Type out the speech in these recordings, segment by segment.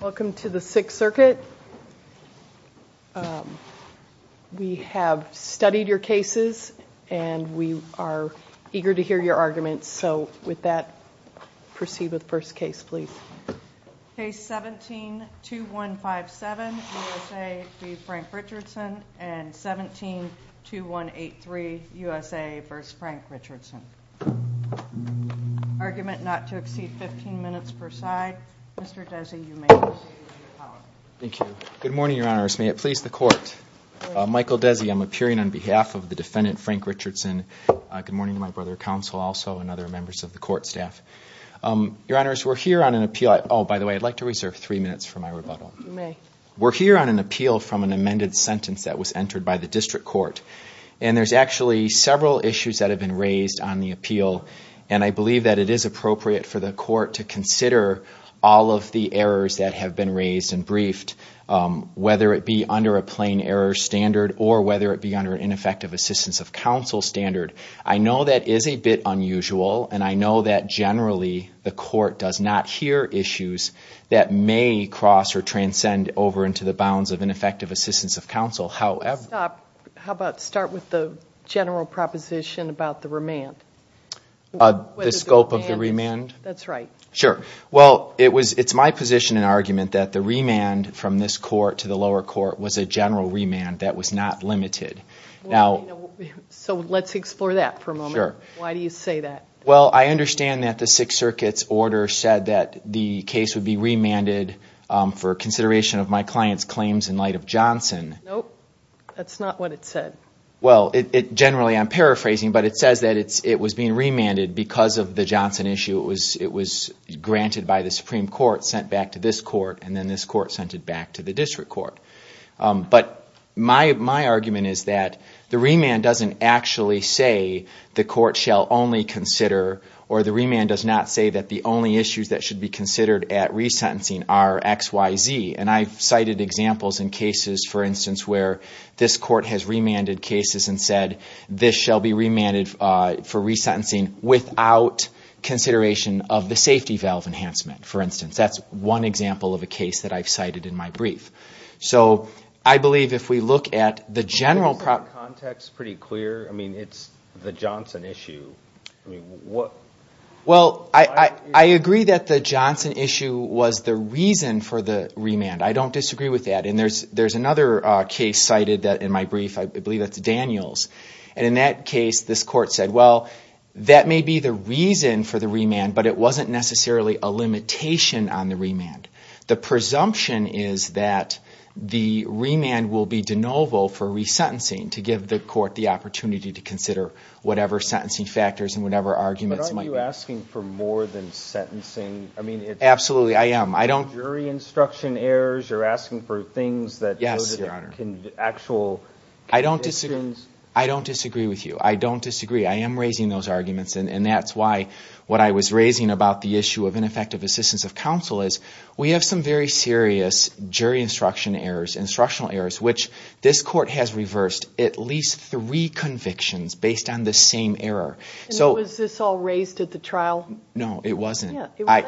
Welcome to the Sixth Circuit. We have studied your cases and we are eager to hear your arguments so with that proceed with first case please. Case 17-2157 USA v. Frank Richardson and 17-2183 USA v. Frank Richardson. Argument not to Thank you. Good morning, Your Honors. May it please the court. Michael Desi, I'm appearing on behalf of the defendant Frank Richardson. Good morning to my brother counsel also and other members of the court staff. Your Honors, we're here on an appeal. Oh, by the way, I'd like to reserve three minutes for my rebuttal. We're here on an appeal from an amended sentence that was entered by the district court and there's actually several issues that have been raised on the appeal and I believe that it is appropriate for the court to consider all of the errors that have been raised and briefed whether it be under a plain error standard or whether it be under an ineffective assistance of counsel standard. I know that is a bit unusual and I know that generally the court does not hear issues that may cross or transcend over into the bounds of ineffective assistance of counsel. How about start with the general proposition about the remand? The scope of the remand? That's right. Sure. Well, it was, it's my position and argument that the remand from this court to the lower court was a general remand that was not limited. Now, so let's explore that for a moment. Sure. Why do you say that? Well, I understand that the Sixth Circuit's order said that the case would be remanded for consideration of my client's claims in Johnson. Nope. That's not what it said. Well, generally I'm paraphrasing, but it says that it was being remanded because of the Johnson issue. It was granted by the Supreme Court, sent back to this court, and then this court sent it back to the district court. But my argument is that the remand doesn't actually say the court shall only consider or the remand does not say that the only issues that should be considered at resentencing are XYZ and I've cited examples in cases, for instance, where this court has remanded cases and said this shall be remanded for resentencing without consideration of the safety valve enhancement, for instance. That's one example of a case that I've cited in my brief. So, I believe if we look at the general context pretty clear, I mean, it's the Johnson issue. Well, I agree that the Johnson issue was the remand. I don't disagree with that. And there's another case cited that in my brief, I believe it's Daniels, and in that case this court said, well, that may be the reason for the remand, but it wasn't necessarily a limitation on the remand. The presumption is that the remand will be de novo for resentencing to give the court the opportunity to consider whatever sentencing factors and whatever arguments might be. But aren't you asking for more than sentencing? I mean, it's... Are you asking for instruction errors? You're asking for things that... Yes, Your Honor. ...actual... I don't disagree. I don't disagree with you. I don't disagree. I am raising those arguments, and that's why what I was raising about the issue of ineffective assistance of counsel is we have some very serious jury instruction errors, instructional errors, which this court has reversed at least three convictions based on the same error. So... And was this all raised at the trial? No, it wasn't. I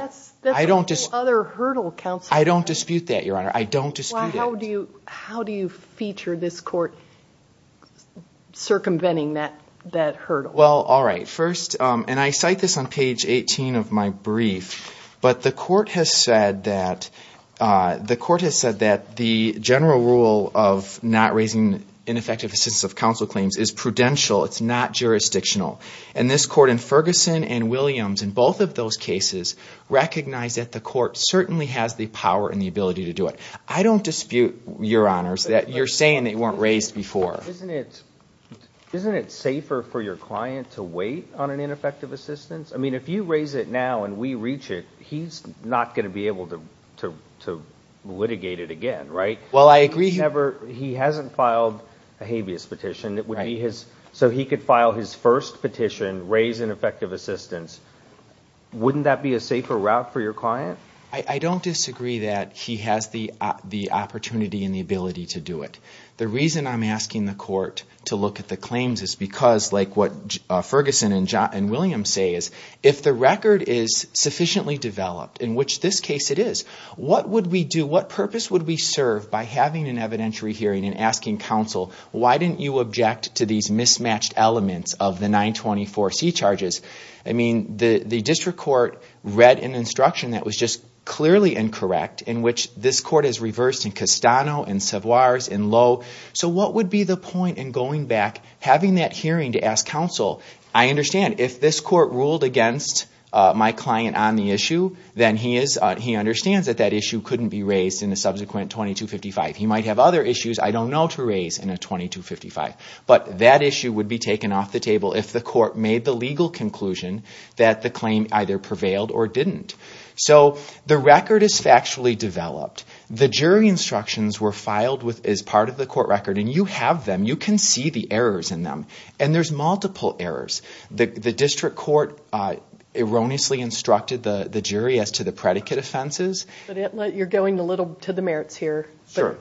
don't dispute that, Your Honor. I don't dispute it. Well, how do you feature this court circumventing that hurdle? Well, all right. First, and I cite this on page 18 of my brief, but the court has said that the court has said that the general rule of not raising ineffective assistance of counsel claims is prudential. It's not jurisdictional. And this court in Ferguson and Williams, in both of those cases, recognized that the court certainly has the power and the ability to do it. I don't dispute, Your Honors, that you're saying they weren't raised before. Isn't it... Isn't it safer for your client to wait on an ineffective assistance? I mean, if you raise it now and we reach it, he's not going to be able to litigate it again, right? Well, I agree... He's never... He hasn't filed a habeas petition. It would be his... So he could file his first petition, raise ineffective assistance. Wouldn't that be a safer route for your client? I don't disagree that he has the opportunity and the ability to do it. The reason I'm asking the court to look at the claims is because, like what Ferguson and Williams say, is if the record is sufficiently developed, in which this case it is, what would we do? What purpose would we serve by having an evidentiary hearing and asking counsel, why didn't you object to these mismatched elements of the 924C charges? I mean, the district court read an instruction that was just clearly incorrect, in which this court has reversed in Castano, in Savoirs, in Lowe. So what would be the point in going back, having that hearing, to ask counsel, I understand if this court ruled against my client on the issue, then he is... He understands that that issue couldn't be raised in a subsequent 2255. He might have other issues I don't know to raise in a 2255, but that issue would be taken off the table if the court made the legal conclusion that the claim either prevailed or didn't. So the record is factually developed. The jury instructions were filed as part of the court record, and you have them. You can see the errors in them, and there's multiple errors. The district court erroneously instructed the jury as to the predicate offenses. But you're going a little to the merits here, but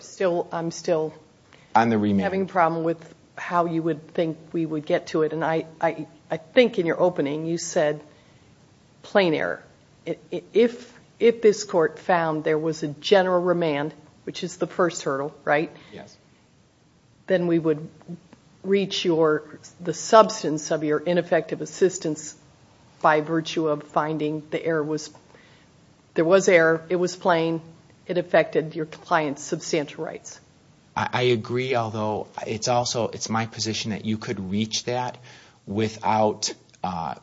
I'm still having a problem with how you would think we would get to it. And I think in your opening, you said plain error. If this court found there was a general remand, which is the first hurdle, right? Yes. Then we would reach the substance of your ineffective assistance by virtue of finding there was error. It was plain. It affected your client's substantial rights. I agree, although it's also my position that you could reach that without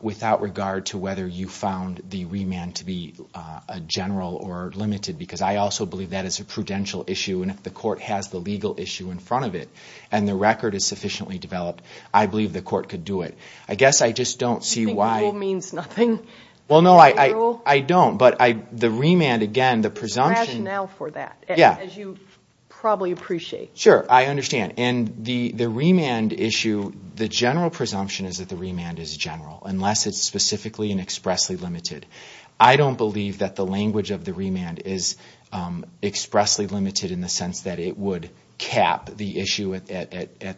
regard to whether you found the remand to be a general or limited, because I also believe that is a prudential issue. And if the court has the legal issue in front of it, and the record is sufficiently developed, I believe the general presumption is that the remand is general, unless it's specifically and expressly limited. I don't believe that the language of the remand is expressly limited in the sense that it would cap the issue at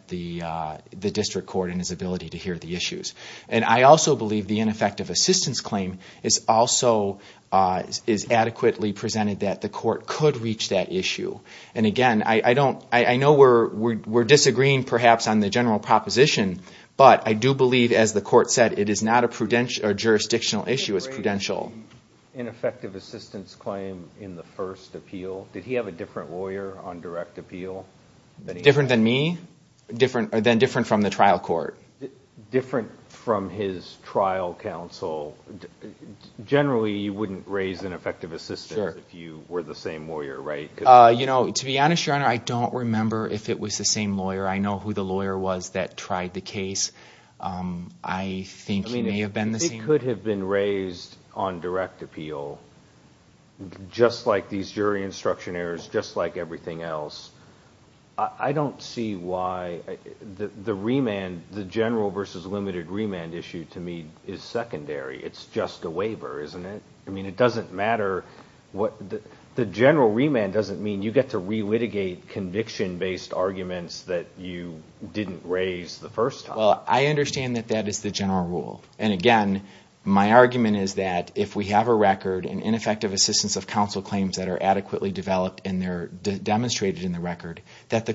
the district court and its ability to hear the issues. And I also believe the ineffective assistance claim is also adequately presented that the court could reach that issue. And again, I know we're disagreeing, perhaps, on the general proposition, but I do believe, as the court said, it is not a jurisdictional issue. It's prudential. In the case of the ineffective assistance claim in the first appeal, did he have a different lawyer on direct appeal? Different than me? Then different from the trial court? Different from his trial counsel. Generally, you wouldn't raise an effective assistance if you were the same lawyer, right? To be honest, Your Honor, I don't remember if it was the same lawyer. I know who the lawyer was that tried the case. I think it may have been the same lawyer. I mean, if he could have been raised on direct appeal, just like these jury instruction errors, just like the general versus limited remand issue, to me, is secondary. It's just a waiver, isn't it? I mean, it doesn't matter what the general remand doesn't mean. You get to re-litigate conviction-based arguments that you didn't raise the first time. Well, I understand that that is the general rule. And again, my argument is that if we have a record and ineffective assistance of counsel claims that are adequately developed and they're demonstrated in the record, that the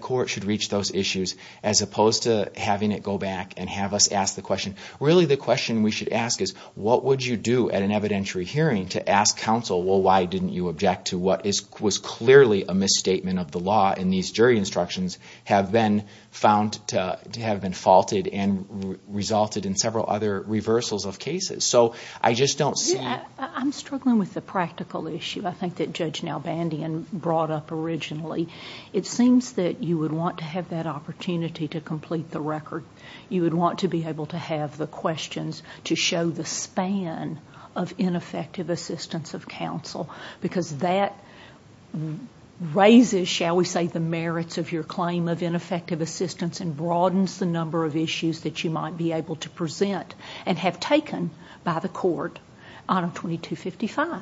back and have us ask the question. Really, the question we should ask is, what would you do at an evidentiary hearing to ask counsel, well, why didn't you object to what was clearly a misstatement of the law and these jury instructions have been found to have been faulted and resulted in several other reversals of cases? So, I just don't see... I'm struggling with the practical issue, I think, that Judge Nalbandian brought up originally. It seems that you would want to have that opportunity to complete the record. You would want to be able to have the questions to show the span of ineffective assistance of counsel because that raises, shall we say, the merits of your claim of ineffective assistance and broadens the number of issues that you might be able to present and have taken by the court on a 2255.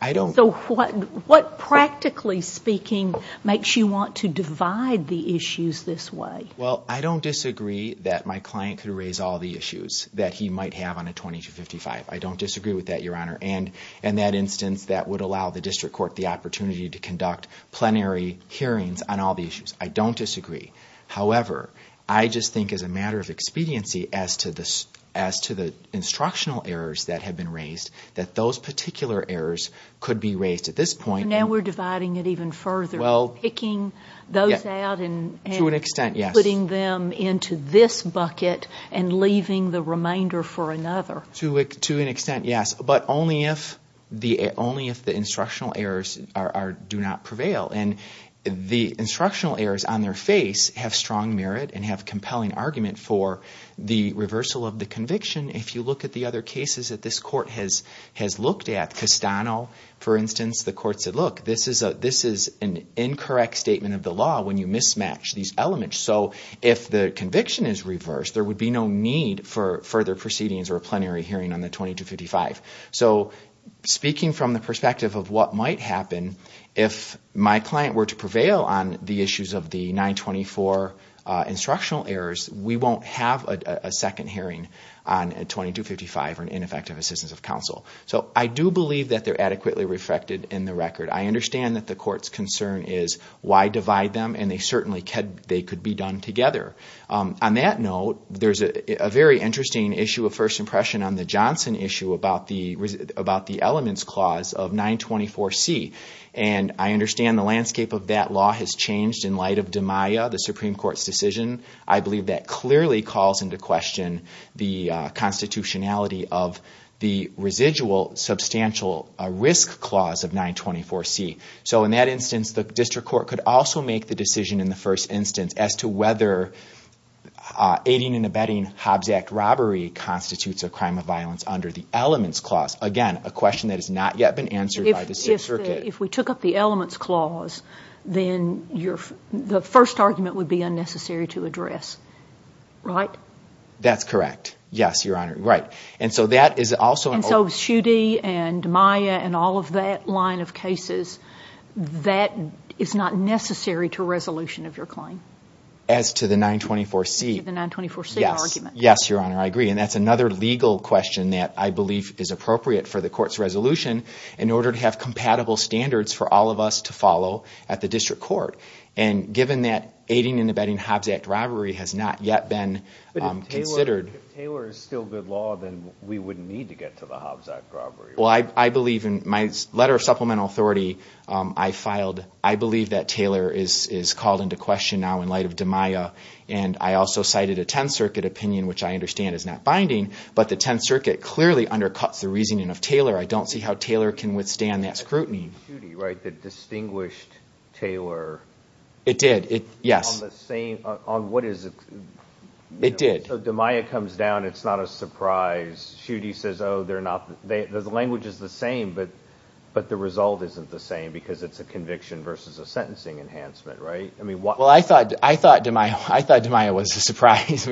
I don't... So, what practically speaking makes you want to divide the issues this way? Well, I don't disagree that my client could raise all the issues that he might have on a 2255. I don't disagree with that, Your Honor, and in that instance that would allow the district court the opportunity to conduct plenary hearings on all the issues. I don't disagree. However, I just think as a matter of expediency as to the instructional errors that have been raised, that those particular errors could be raised at this point. Now we're dividing it even further, picking those out and putting them into this bucket and leaving the remainder for another. To an extent, yes, but only if the instructional errors do not prevail. And the instructional errors on their face have strong merit and have compelling argument for the reversal of the 2255. This court has looked at. Castano, for instance, the court said, look, this is an incorrect statement of the law when you mismatch these elements. So, if the conviction is reversed, there would be no need for further proceedings or a plenary hearing on the 2255. So, speaking from the perspective of what might happen, if my client were to prevail on the issues of the 924 instructional errors, we won't have a second hearing on a 2255 or an effective assistance of counsel. So, I do believe that they're adequately reflected in the record. I understand that the court's concern is why divide them and they certainly could be done together. On that note, there's a very interesting issue of first impression on the Johnson issue about the elements clause of 924C. And I understand the landscape of that law has changed in light of DiMaia, the Supreme Court's decision. I believe that the residual substantial risk clause of 924C. So, in that instance, the district court could also make the decision in the first instance as to whether aiding and abetting Hobbs Act robbery constitutes a crime of violence under the elements clause. Again, a question that has not yet been answered by the circuit. If we took up the elements clause, then the first argument would be unnecessary to address, right? That's correct. Yes, Your Honor. Right. And so, that is also... And so, Schuette and DiMaia and all of that line of cases, that is not necessary to resolution of your claim. As to the 924C. As to the 924C argument. Yes. Yes, Your Honor. I agree. And that's another legal question that I believe is appropriate for the court's resolution in order to have compatible standards for all of us to follow at the district court. And given that aiding and abetting Hobbs Act robbery has not yet been considered... We wouldn't need to get to the Hobbs Act robbery. Well, I believe in my letter of supplemental authority, I filed... I believe that Taylor is called into question now in light of DiMaia. And I also cited a Tenth Circuit opinion, which I understand is not binding, but the Tenth Circuit clearly undercuts the reasoning of Taylor. I don't see how Taylor can withstand that scrutiny. That's Schuette, right? The distinguished Taylor. It did. Yes. On the same... On what is it... It did. So DiMaia comes down, it's not a surprise. Schuette says, oh, they're not... The language is the same, but the result isn't the same because it's a conviction versus a sentencing enhancement, right? I mean, why... Well, I thought DiMaia was a surprise.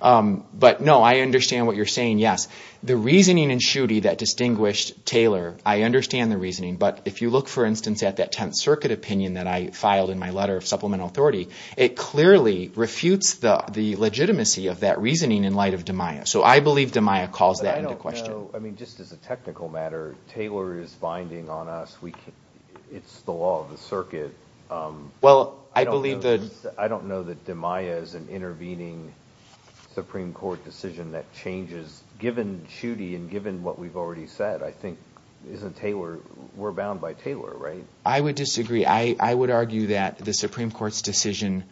But no, I understand what you're saying, yes. The reasoning in Schuette that distinguished Taylor, I understand the reasoning. But if you look, for instance, at that Tenth Circuit opinion that I filed in my letter of supplemental authority, it clearly refutes the legitimacy of that reasoning in light of DiMaia. So I believe DiMaia calls that into question. I mean, just as a technical matter, Taylor is binding on us. It's the law of the circuit. Well, I believe that... I don't know that DiMaia is an intervening Supreme Court decision that changes, given Schuette and given what we've already said. I think, isn't Taylor... We're bound by Taylor, right? I would disagree. I would argue that the Supreme Court's decision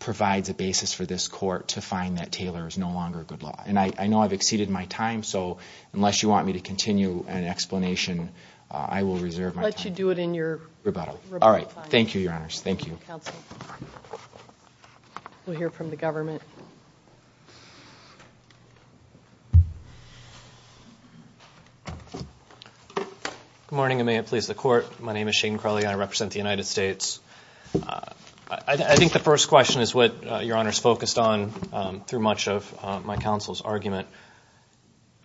provides a basis for this court to find that Taylor is no longer a good law. And I know I've exceeded my time, so unless you want me to continue an explanation, I will reserve my time. I'll let you do it in your rebuttal. All right. Thank you, Your name is Shane Crowley. I represent the United States. I think the first question is what Your Honor's focused on through much of my counsel's argument,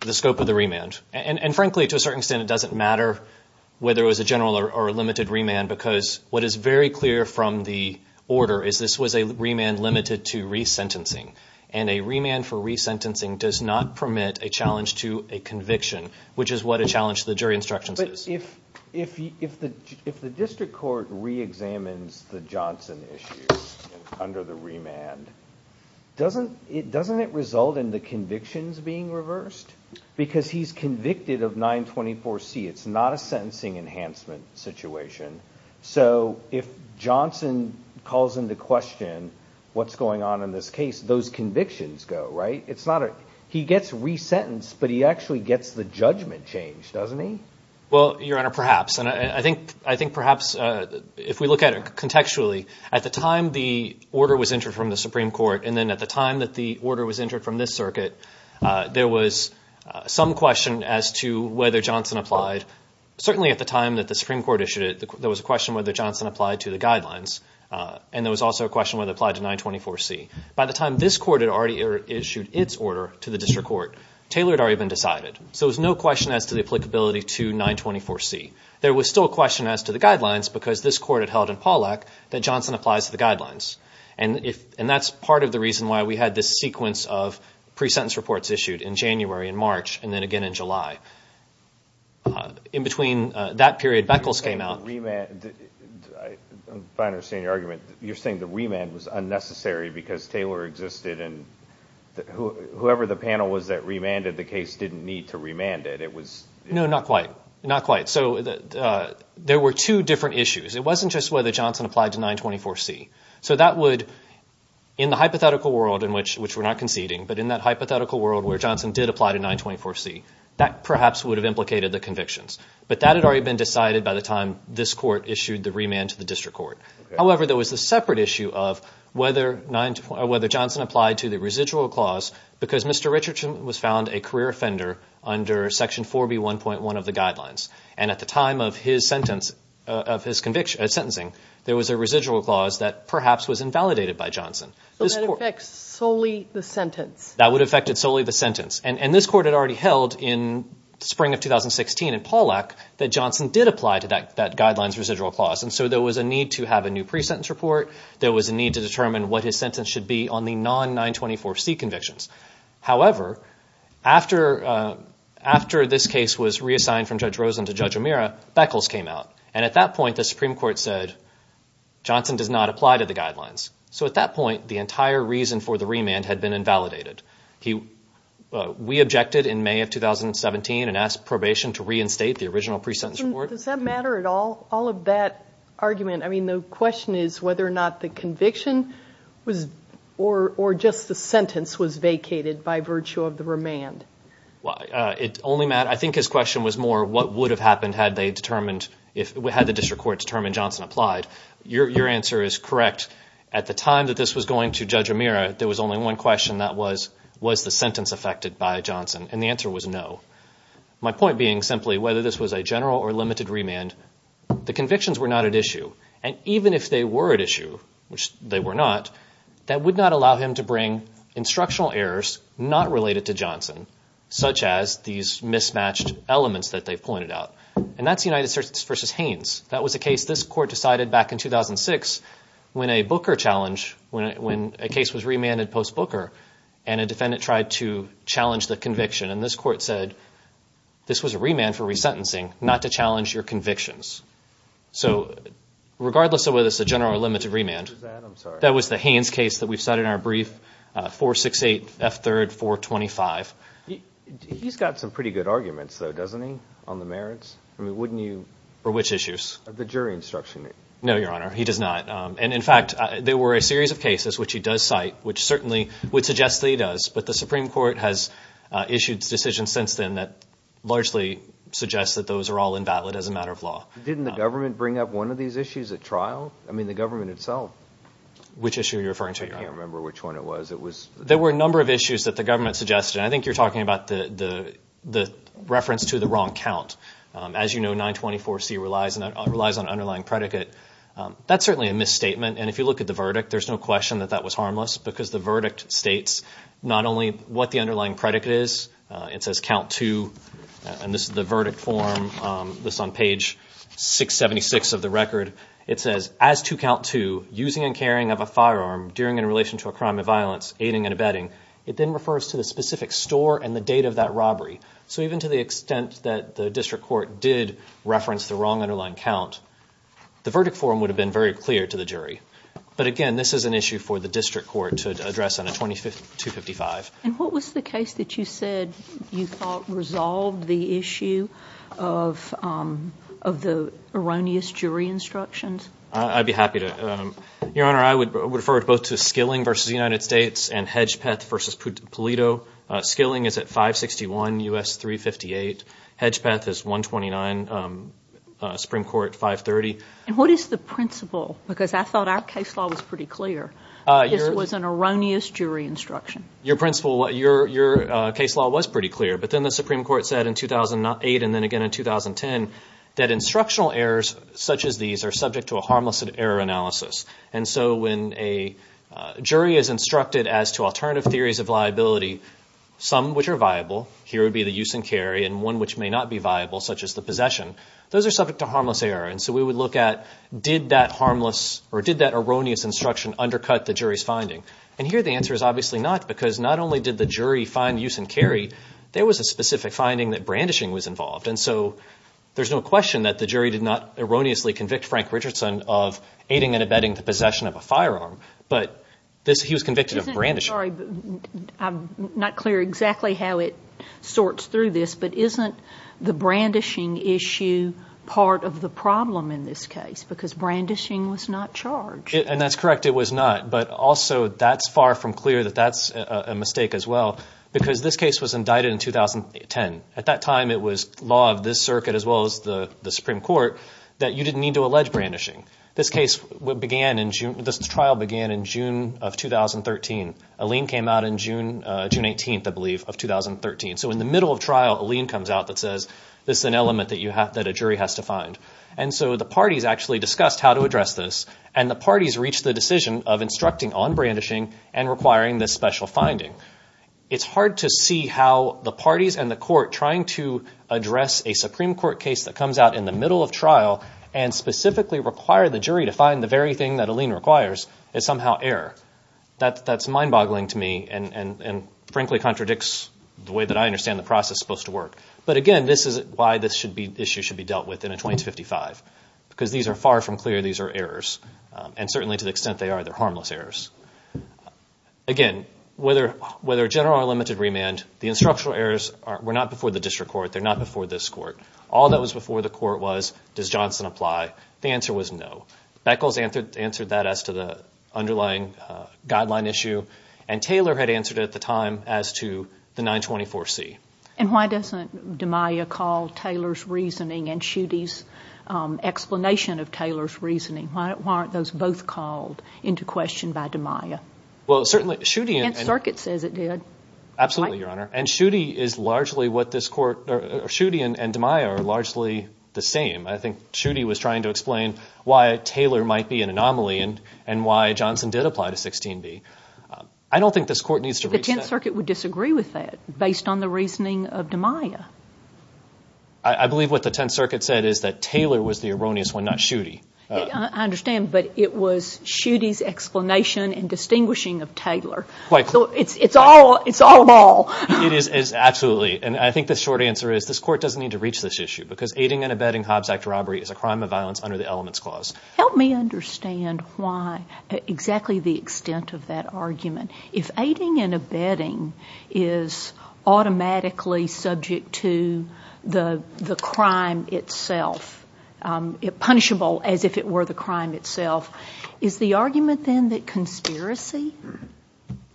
the scope of the remand. And frankly, to a certain extent, it doesn't matter whether it was a general or a limited remand, because what is very clear from the order is this was a remand limited to resentencing. And a remand for resentencing does not permit a challenge to a conviction, which is what a challenge to the jury instructions is. But if the District Court re-examines the Johnson issue under the remand, doesn't it result in the convictions being reversed? Because he's convicted of 924C. It's not a sentencing enhancement situation. So if Johnson calls into question what's going on in this case, those convictions go, right? He gets resentenced, but he actually gets the judgment changed, doesn't he? Well, Your Honor, perhaps. And I think perhaps if we look at it contextually, at the time the order was entered from the Supreme Court, and then at the time that the order was entered from this circuit, there was some question as to whether Johnson applied. Certainly at the time that the Supreme Court issued it, there was a question whether Johnson applied to the guidelines. And there was also a question whether it applied to 924C. By the time this court had already issued its order to the District Court, Taylor had already been decided. So there was no question as to the applicability to 924C. There was still a question as to the guidelines, because this court had held in Pawlak that Johnson applies to the guidelines. And that's part of the reason why we had this sequence of pre-sentence reports issued in January and March, and then again in July. In between that period, Beckles came out. If I understand your argument, you're saying the remand was unnecessary because Taylor existed and whoever the panel was that remanded the case didn't need to remand it. No, not quite. So there were two different issues. It wasn't just whether Johnson applied to 924C. So that would, in the hypothetical world in which we're not conceding, but in that hypothetical world where Johnson did apply to 924C, that perhaps would have implicated the convictions. But that had already been decided by the time this court issued the remand to the Johnson applied to the residual clause because Mr. Richardson was found a career offender under Section 4B1.1 of the guidelines. And at the time of his sentencing, there was a residual clause that perhaps was invalidated by Johnson. So that affects solely the sentence? That would affect solely the sentence. And this court had already held in the spring of 2016 in Pawlak that Johnson did apply to that guidelines residual clause. And so there was a need to have a new pre-sentence report. There was a need to be on the non-924C convictions. However, after this case was reassigned from Judge Rosen to Judge O'Meara, Beckles came out. And at that point, the Supreme Court said Johnson does not apply to the guidelines. So at that point, the entire reason for the remand had been invalidated. We objected in May of 2017 and asked probation to reinstate the original pre-sentence report. Does that matter at all, all of that argument? I mean the question is whether or not the conviction was or just the sentence was vacated by virtue of the remand. Well, it only mattered, I think his question was more what would have happened had they determined, had the district court determined Johnson applied. Your answer is correct. At the time that this was going to Judge O'Meara, there was only one question that was, was the sentence affected by Johnson? And the answer was no. My point being simply whether this was a general or limited remand, the convictions were not at issue. And even if they were at issue, which they were not, that would not allow him to bring instructional errors not related to Johnson, such as these mismatched elements that they've pointed out. And that's United States v. Haynes. That was a case this court decided back in 2006 when a Booker challenge, when a case was remanded post-Booker, and a defendant tried to challenge the conviction. And this court said this was a remand for resentencing, not to regardless of whether it's a general or limited remand. That was the Haynes case that we've cited in our brief 468 F. 3rd 425. He's got some pretty good arguments, though, doesn't he? On the merits? I mean, wouldn't you? For which issues? The jury instruction. No, Your Honor, he does not. And in fact, there were a series of cases which he does cite, which certainly would suggest that he does. But the Supreme Court has issued decisions since then that largely suggests that those are all invalid as a matter of law. Didn't the trial? I mean, the government itself. Which issue are you referring to? I can't remember which one it was. There were a number of issues that the government suggested. I think you're talking about the reference to the wrong count. As you know, 924C relies on underlying predicate. That's certainly a misstatement. And if you look at the verdict, there's no question that that was harmless, because the verdict states not only what the underlying predicate is, it says count to, and this is the verdict form, this on page 676 of the record, it says, as to count to, using and carrying of a firearm during and in relation to a crime of violence, aiding and abetting, it then refers to the specific store and the date of that robbery. So even to the extent that the district court did reference the wrong underlying count, the verdict form would have been very clear to the jury. But again, this is an issue for the district court to address on a 2255. And what was the case that you said you thought resolved the issue of the erroneous jury instructions? I'd be happy to. Your Honor, I would refer both to Skilling versus the United States and Hedgepeth versus Pulido. Skilling is at 561 U.S. 358. Hedgepeth is 129 Supreme Court 530. And what is the principle? Because I thought our case law was pretty clear. This was an Your case law was pretty clear. But then the Supreme Court said in 2008 and then again in 2010 that instructional errors such as these are subject to a harmless error analysis. And so when a jury is instructed as to alternative theories of liability, some which are viable, here would be the use and carry, and one which may not be viable, such as the possession, those are subject to harmless error. And so we would look at, did that harmless or did that erroneous instruction undercut the jury's finding? And here the answer is obviously not, because not only did the jury find use and carry, there was a specific finding that brandishing was involved. And so there's no question that the jury did not erroneously convict Frank Richardson of aiding and abetting the possession of a firearm. But he was convicted of brandishing. I'm not clear exactly how it sorts through this, but isn't the brandishing issue part of the problem in this case? Because brandishing was not charged. And that's correct. It was not, but also that's far from clear that that's a mistake as well, because this case was indicted in 2010. At that time, it was law of this circuit, as well as the Supreme Court, that you didn't need to allege brandishing. This trial began in June of 2013. Aline came out in June 18th, I believe, of 2013. So in the middle of trial, Aline comes out that says, this is an element that a jury has to find. And so the parties actually discussed how to address this, and the parties reached the decision of instructing on brandishing and requiring this special finding. It's hard to see how the parties and the court trying to address a Supreme Court case that comes out in the middle of trial and specifically require the jury to find the very thing that Aline requires is somehow error. That's mind boggling to me and frankly contradicts the way that I understand the process supposed to work. But again, this is why this issue should be dealt with in a 20 to 55, because these are far from clear. These are errors, and certainly to the extent they are, they're harmless errors. Again, whether general or limited remand, the instructional errors were not before the district court. They're not before this court. All that was before the court was, does Johnson apply? The answer was no. Beckles answered that as to the underlying guideline issue, and Taylor had answered it at the time as to the 924C. And why doesn't the 10th Circuit use explanation of Taylor's reasoning? Why aren't those both called into question by DeMaia? Well, certainly, Schuette and... The 10th Circuit says it did. Absolutely, Your Honor. And Schuette is largely what this court... Schuette and DeMaia are largely the same. I think Schuette was trying to explain why Taylor might be an anomaly and why Johnson did apply to 16B. I don't think this court needs to reach that... The 10th Circuit would disagree with that based on the reasoning of DeMaia. I believe what the 10th Circuit said is that Taylor was the erroneous one, not Schuette. I understand, but it was Schuette's explanation and distinguishing of Taylor. So it's all... It's all of all. It is. Absolutely. And I think the short answer is this court doesn't need to reach this issue because aiding and abetting Hobbs Act robbery is a crime of violence under the Elements Clause. Help me understand why, exactly the extent of that argument. If aiding and abetting is automatically subject to the crime itself, punishable as if it were the crime itself, is the argument then that conspiracy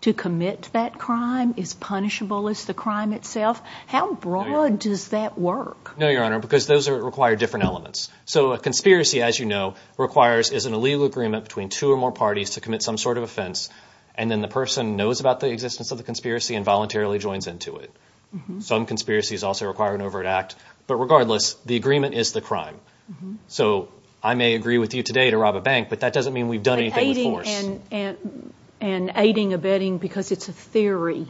to commit that crime is punishable as the crime itself? How broad does that work? No, Your Honor, because those require different elements. So a conspiracy, as you know, requires... Is an illegal agreement between two or more parties to commit some sort of offense, and then the person knows about the existence of the conspiracy and voluntarily joins into it. Some conspiracies also require an overt act, but regardless, the agreement is the crime. So I may agree with you today to rob a bank, but that doesn't mean we've done anything with force. And aiding and abetting because it's a theory?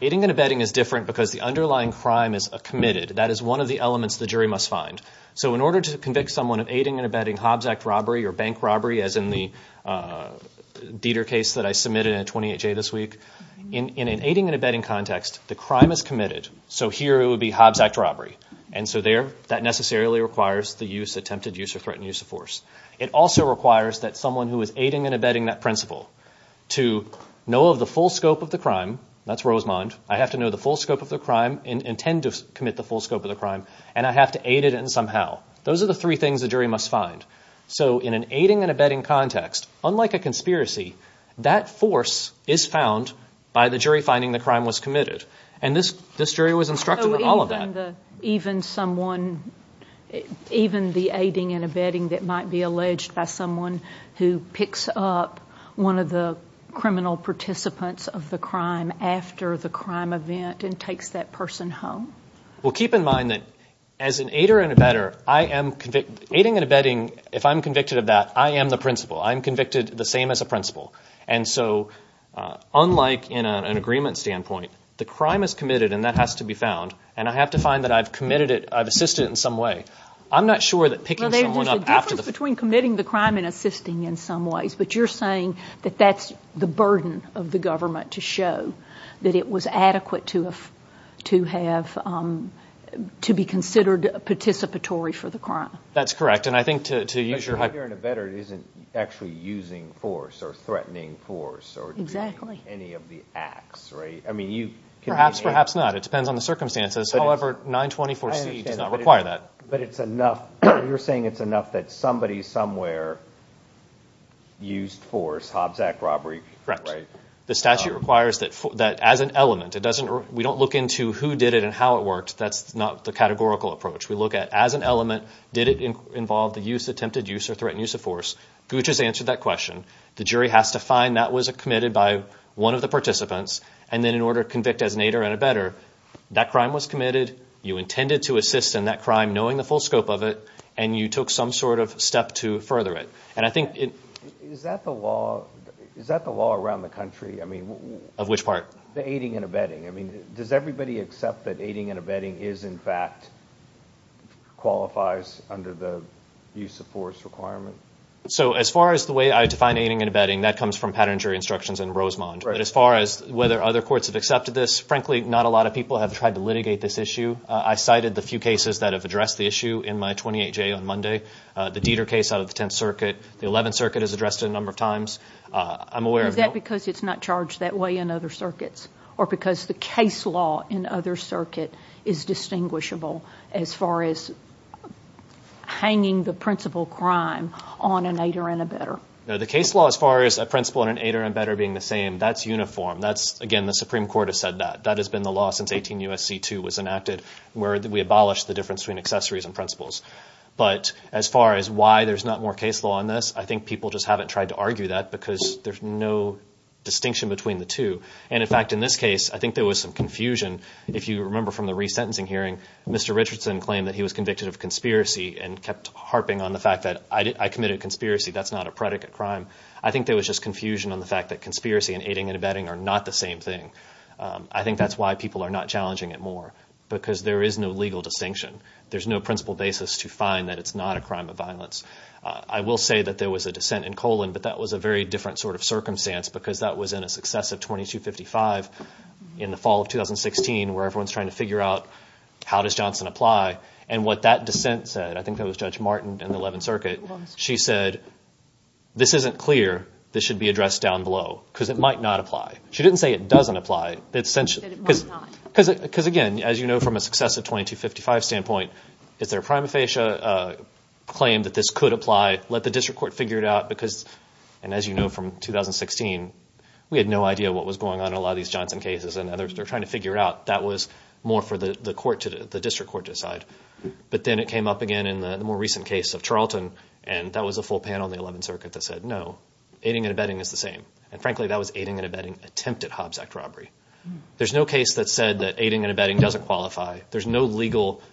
Aiding and abetting is different because the underlying crime is a committed. That is one of the elements the jury must find. So in order to convict someone of aiding and abetting Hobbs Act robbery or bank robbery, as in the Dieter case that I submitted in a 28-J this week, in an aiding and abetting context, the crime is committed. So here it would be Hobbs Act robbery. And so there, that necessarily requires the use, attempted use or threatened use of force. It also requires that someone who is aiding and abetting that principle to know of the full scope of the crime, that's Rosemond, I have to know the full scope of the crime and intend to commit the full scope of the crime, and I have to aid it in somehow. Those are the three things the jury must find. So in an aiding and abetting context, unlike a conspiracy, that force is found by the jury finding the crime was committed. And this jury was instructed in all of that. Even someone, even the aiding and abetting that might be alleged by someone who picks up one of the criminal participants of the crime after the crime event and takes that person home? Well, keep in mind that as an aider and abetter, I am... Aiding and abetting, if I'm convicted of that, I am the principal. I'm convicted the same as a principal. And so unlike in an agreement standpoint, the crime is committed and that has to be found. And I have to find that I've committed it, I've assisted in some way. I'm not sure that picking someone up after... There's a difference between committing the crime and assisting in some ways, but you're saying that that's the burden of the government to show that it was adequate to have, to be considered participatory for the crime. That's correct. And I think to use your... But an aider and abetter isn't actually using force or threatening force or... Exactly. ...any of the acts, right? I mean, you... Perhaps, perhaps not. It depends on the circumstances. However, 924C does not require that. But it's enough. You're saying it's enough that somebody, somewhere used force, Hobbs Act robbery, right? Correct. The statute requires that as an element, it doesn't... We don't look into who did it and how it worked. That's not the categorical approach. We look at as an element, did it involve the use, attempted use, or threatened use of force? Gooch has answered that question. The jury has to find that was committed by one of the participants and then in order to convict as an aider and abetter, that crime was committed, you intended to assist in that crime, knowing the full scope of it, and you took some sort of step to further it. And I think it... Is that the law around the country? I mean... Of which part? The aiding and abetting. I mean, does everybody accept that aiding and abetting is, in fact, qualifies under the use of force requirement? So as far as the way I define aiding and abetting, that comes from Pattern and Jury Instructions in Rosemont. But as far as whether other courts have accepted this, frankly, not a lot of people have tried to litigate this issue. I cited the few cases that have addressed the issue in my 28-J on Monday. The Dieter case out of the 10th Circuit, the 11th Circuit is addressed a number of times. I'm aware of... Is that because it's not charged that way in other circuits? Or because the case law in other circuit is distinguishable? As far as hanging the principal crime on an aider and abetter. No, the case law as far as a principal and an aider and abetter being the same, that's uniform. That's... Again, the Supreme Court has said that. That has been the law since 18 U.S.C. 2 was enacted, where we abolished the difference between accessories and principals. But as far as why there's not more case law on this, I think people just haven't tried to argue that because there's no distinction between the two. And in fact, in this case, I think there was some confusion. If you remember from the resentencing hearing, Mr. Richardson claimed that he was convicted of conspiracy and kept harping on the fact that I committed conspiracy. That's not a predicate crime. I think there was just confusion on the fact that conspiracy and aiding and abetting are not the same thing. I think that's why people are not challenging it more because there is no legal distinction. There's no principal basis to find that it's not a crime of violence. I will say that there was a dissent in Colon, but that was a very different sort of circumstance because that was in a successive 2255 in the fall of 2016, where everyone's trying to figure out how does Johnson apply. And what that dissent said, I think that was Judge Martin in the 11th Circuit. She said, this isn't clear. This should be addressed down below because it might not apply. She didn't say it doesn't apply. Because again, as you know, from a successive 2255 standpoint, is there a prima facie claim that this could apply? Let the district court figure it out because, and as you know, from 2016, we had no idea what was going on in a lot of these Johnson cases. And now they're trying to figure it out. That was more for the district court to decide. But then it came up again in the more recent case of Charlton. And that was a full panel in the 11th Circuit that said, no, aiding and abetting is the same. And frankly, that was aiding and abetting attempted Hobbs Act robbery. There's no case that said that aiding and abetting doesn't qualify. There's no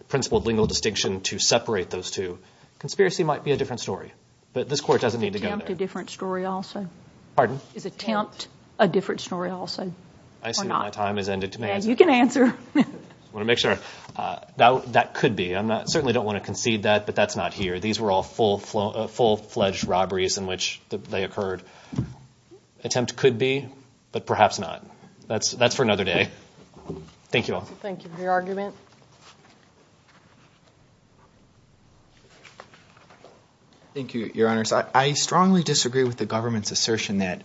principled legal distinction to separate those two. Conspiracy might be a different story, but this court doesn't need to go there. Attempt a different story also? Pardon? Is attempt a different story also? I see my time has ended. You can answer. I want to make sure. That could be. I certainly don't want to concede that, but that's not here. These were all full-fledged robberies in which they occurred. Attempt could be, but perhaps not. That's for another day. Thank you all. Thank you for your argument. Thank you, Your Honors. I strongly disagree with the government's assertion that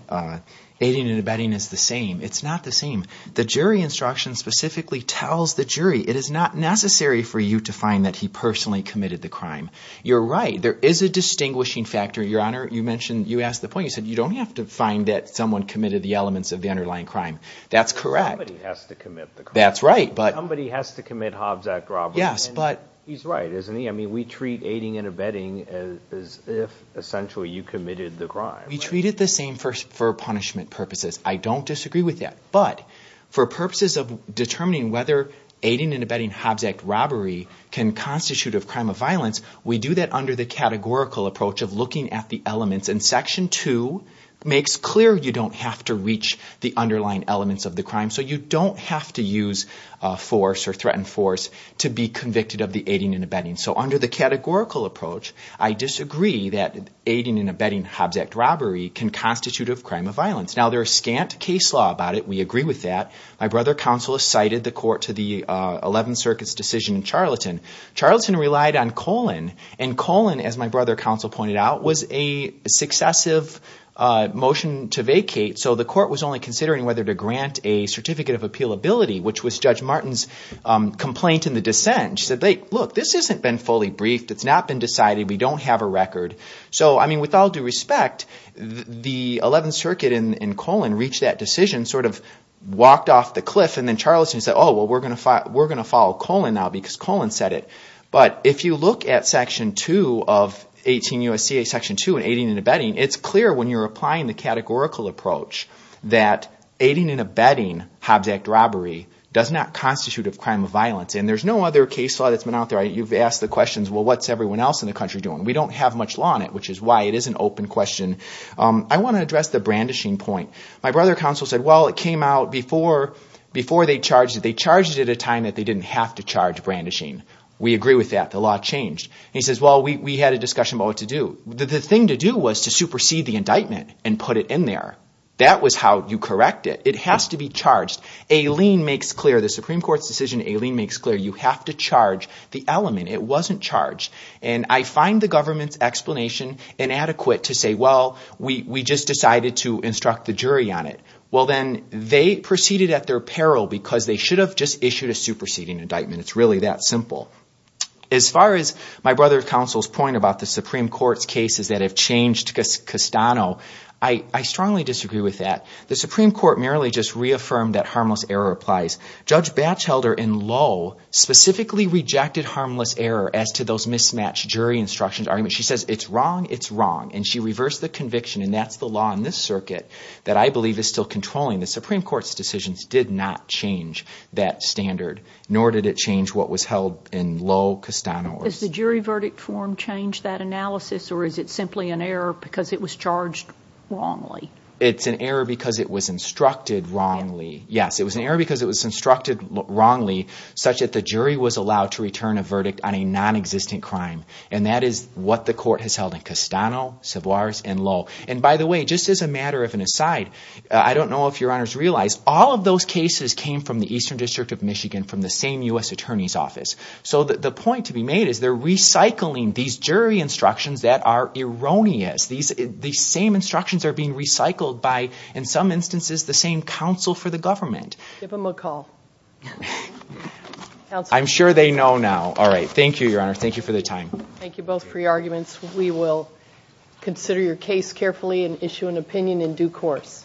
aiding and abetting is the same. It's not the same. The jury instruction specifically tells the jury, it is not necessary for you to find that he personally committed the crime. You're right. There is a distinguishing factor, Your Honor. You mentioned, you asked the point, you said you don't have to find that someone committed the elements of the underlying crime. That's correct. Somebody has to commit the crime. That's right, but... Somebody has to commit Hobbs Act robbery. Yes, but... He's right, isn't he? I mean, we treat aiding and abetting as if essentially you committed the crime. We treat it the same for punishment purposes. I don't disagree with that, but for purposes of determining whether aiding and abetting Hobbs Act robbery can constitute of crime of violence, we do that under the categorical approach of looking at the elements. And Section 2 makes clear you don't have to reach the underlying elements of the crime. So you don't have to use force or threaten force to be convicted of the aiding and abetting. So under the categorical approach, I disagree that aiding and abetting Hobbs Act robbery can constitute of crime of violence. Now, there are scant case law about it. We agree with that. My brother counsel has cited the court to the 11th Circuit's decision in Charlatan. Charlatan relied on Colin, and Colin, as my brother counsel pointed out, was a successive motion to vacate. So the court was only considering whether to grant a certificate of appealability, which was Judge Martin's complaint in the dissent. She said, look, this hasn't been fully briefed. It's not been decided. We don't have a record. So, I mean, with all due respect, the 11th Circuit and Colin reached that decision, sort of walked off the cliff, and then Charlatan said, oh, well, we're going to follow Colin now because Colin said it. But if you look at Section 2 of 18 U.S.C.A. Section 2, aiding and abetting, it's clear when you're applying the categorical approach that aiding and abetting Hobbs Act robbery does not constitute of crime of violence. And there's no other case law that's been out there. You've asked the questions, well, what's everyone else in the country doing? We don't have much law on it, which is why it is an open question. I want to address the brandishing point. My brother counsel said, well, it came out before they charged it. They charged it at a time that they didn't have to charge brandishing. We agree with that. The law changed. And he says, well, we had a discussion about what to do. The thing to do was to supersede the indictment and put it in there. That was how you correct it. It has to be charged. Aileen makes clear, the Supreme Court's decision, Aileen makes clear you have to charge the element. It wasn't charged. And I find the government's explanation inadequate to say, well, we just decided to instruct the jury on it. Well, then they proceeded at their peril because they should have just issued a superseding indictment. It's really that simple. As far as my brother counsel's point about the Supreme Court's cases that have changed Castano, I strongly disagree with that. The Supreme Court merely just reaffirmed that harmless error applies. Judge Batchelder in Low specifically rejected harmless error as to those mismatched jury instructions. She says, it's wrong, it's wrong. And she reversed the conviction. And that's the law in this circuit that I believe is still controlling. The Supreme Court's decisions did not change that standard, nor did it change what was held in Low, Castano. Has the jury verdict form changed that analysis or is it simply an error because it was charged wrongly? It's an error because it was instructed wrongly. Yes, it was an error because it was instructed wrongly such that the jury was allowed to return a verdict on a non-existent crime. And that is what the court has held in Castano, Savoirs, and Low. And by the way, just as a matter of an aside, I don't know if your honors realize, all of those cases came from the Eastern District of Michigan from the same U.S. Attorney's Office. So the point to be made is they're recycling these jury instructions that are erroneous. These same instructions are being recycled by, in some instances, the same counsel for the government. Give them a call. I'm sure they know now. All right, thank you, your honor. Thank you for the time. Thank you both for your arguments. We will consider your case carefully and issue an opinion in due course.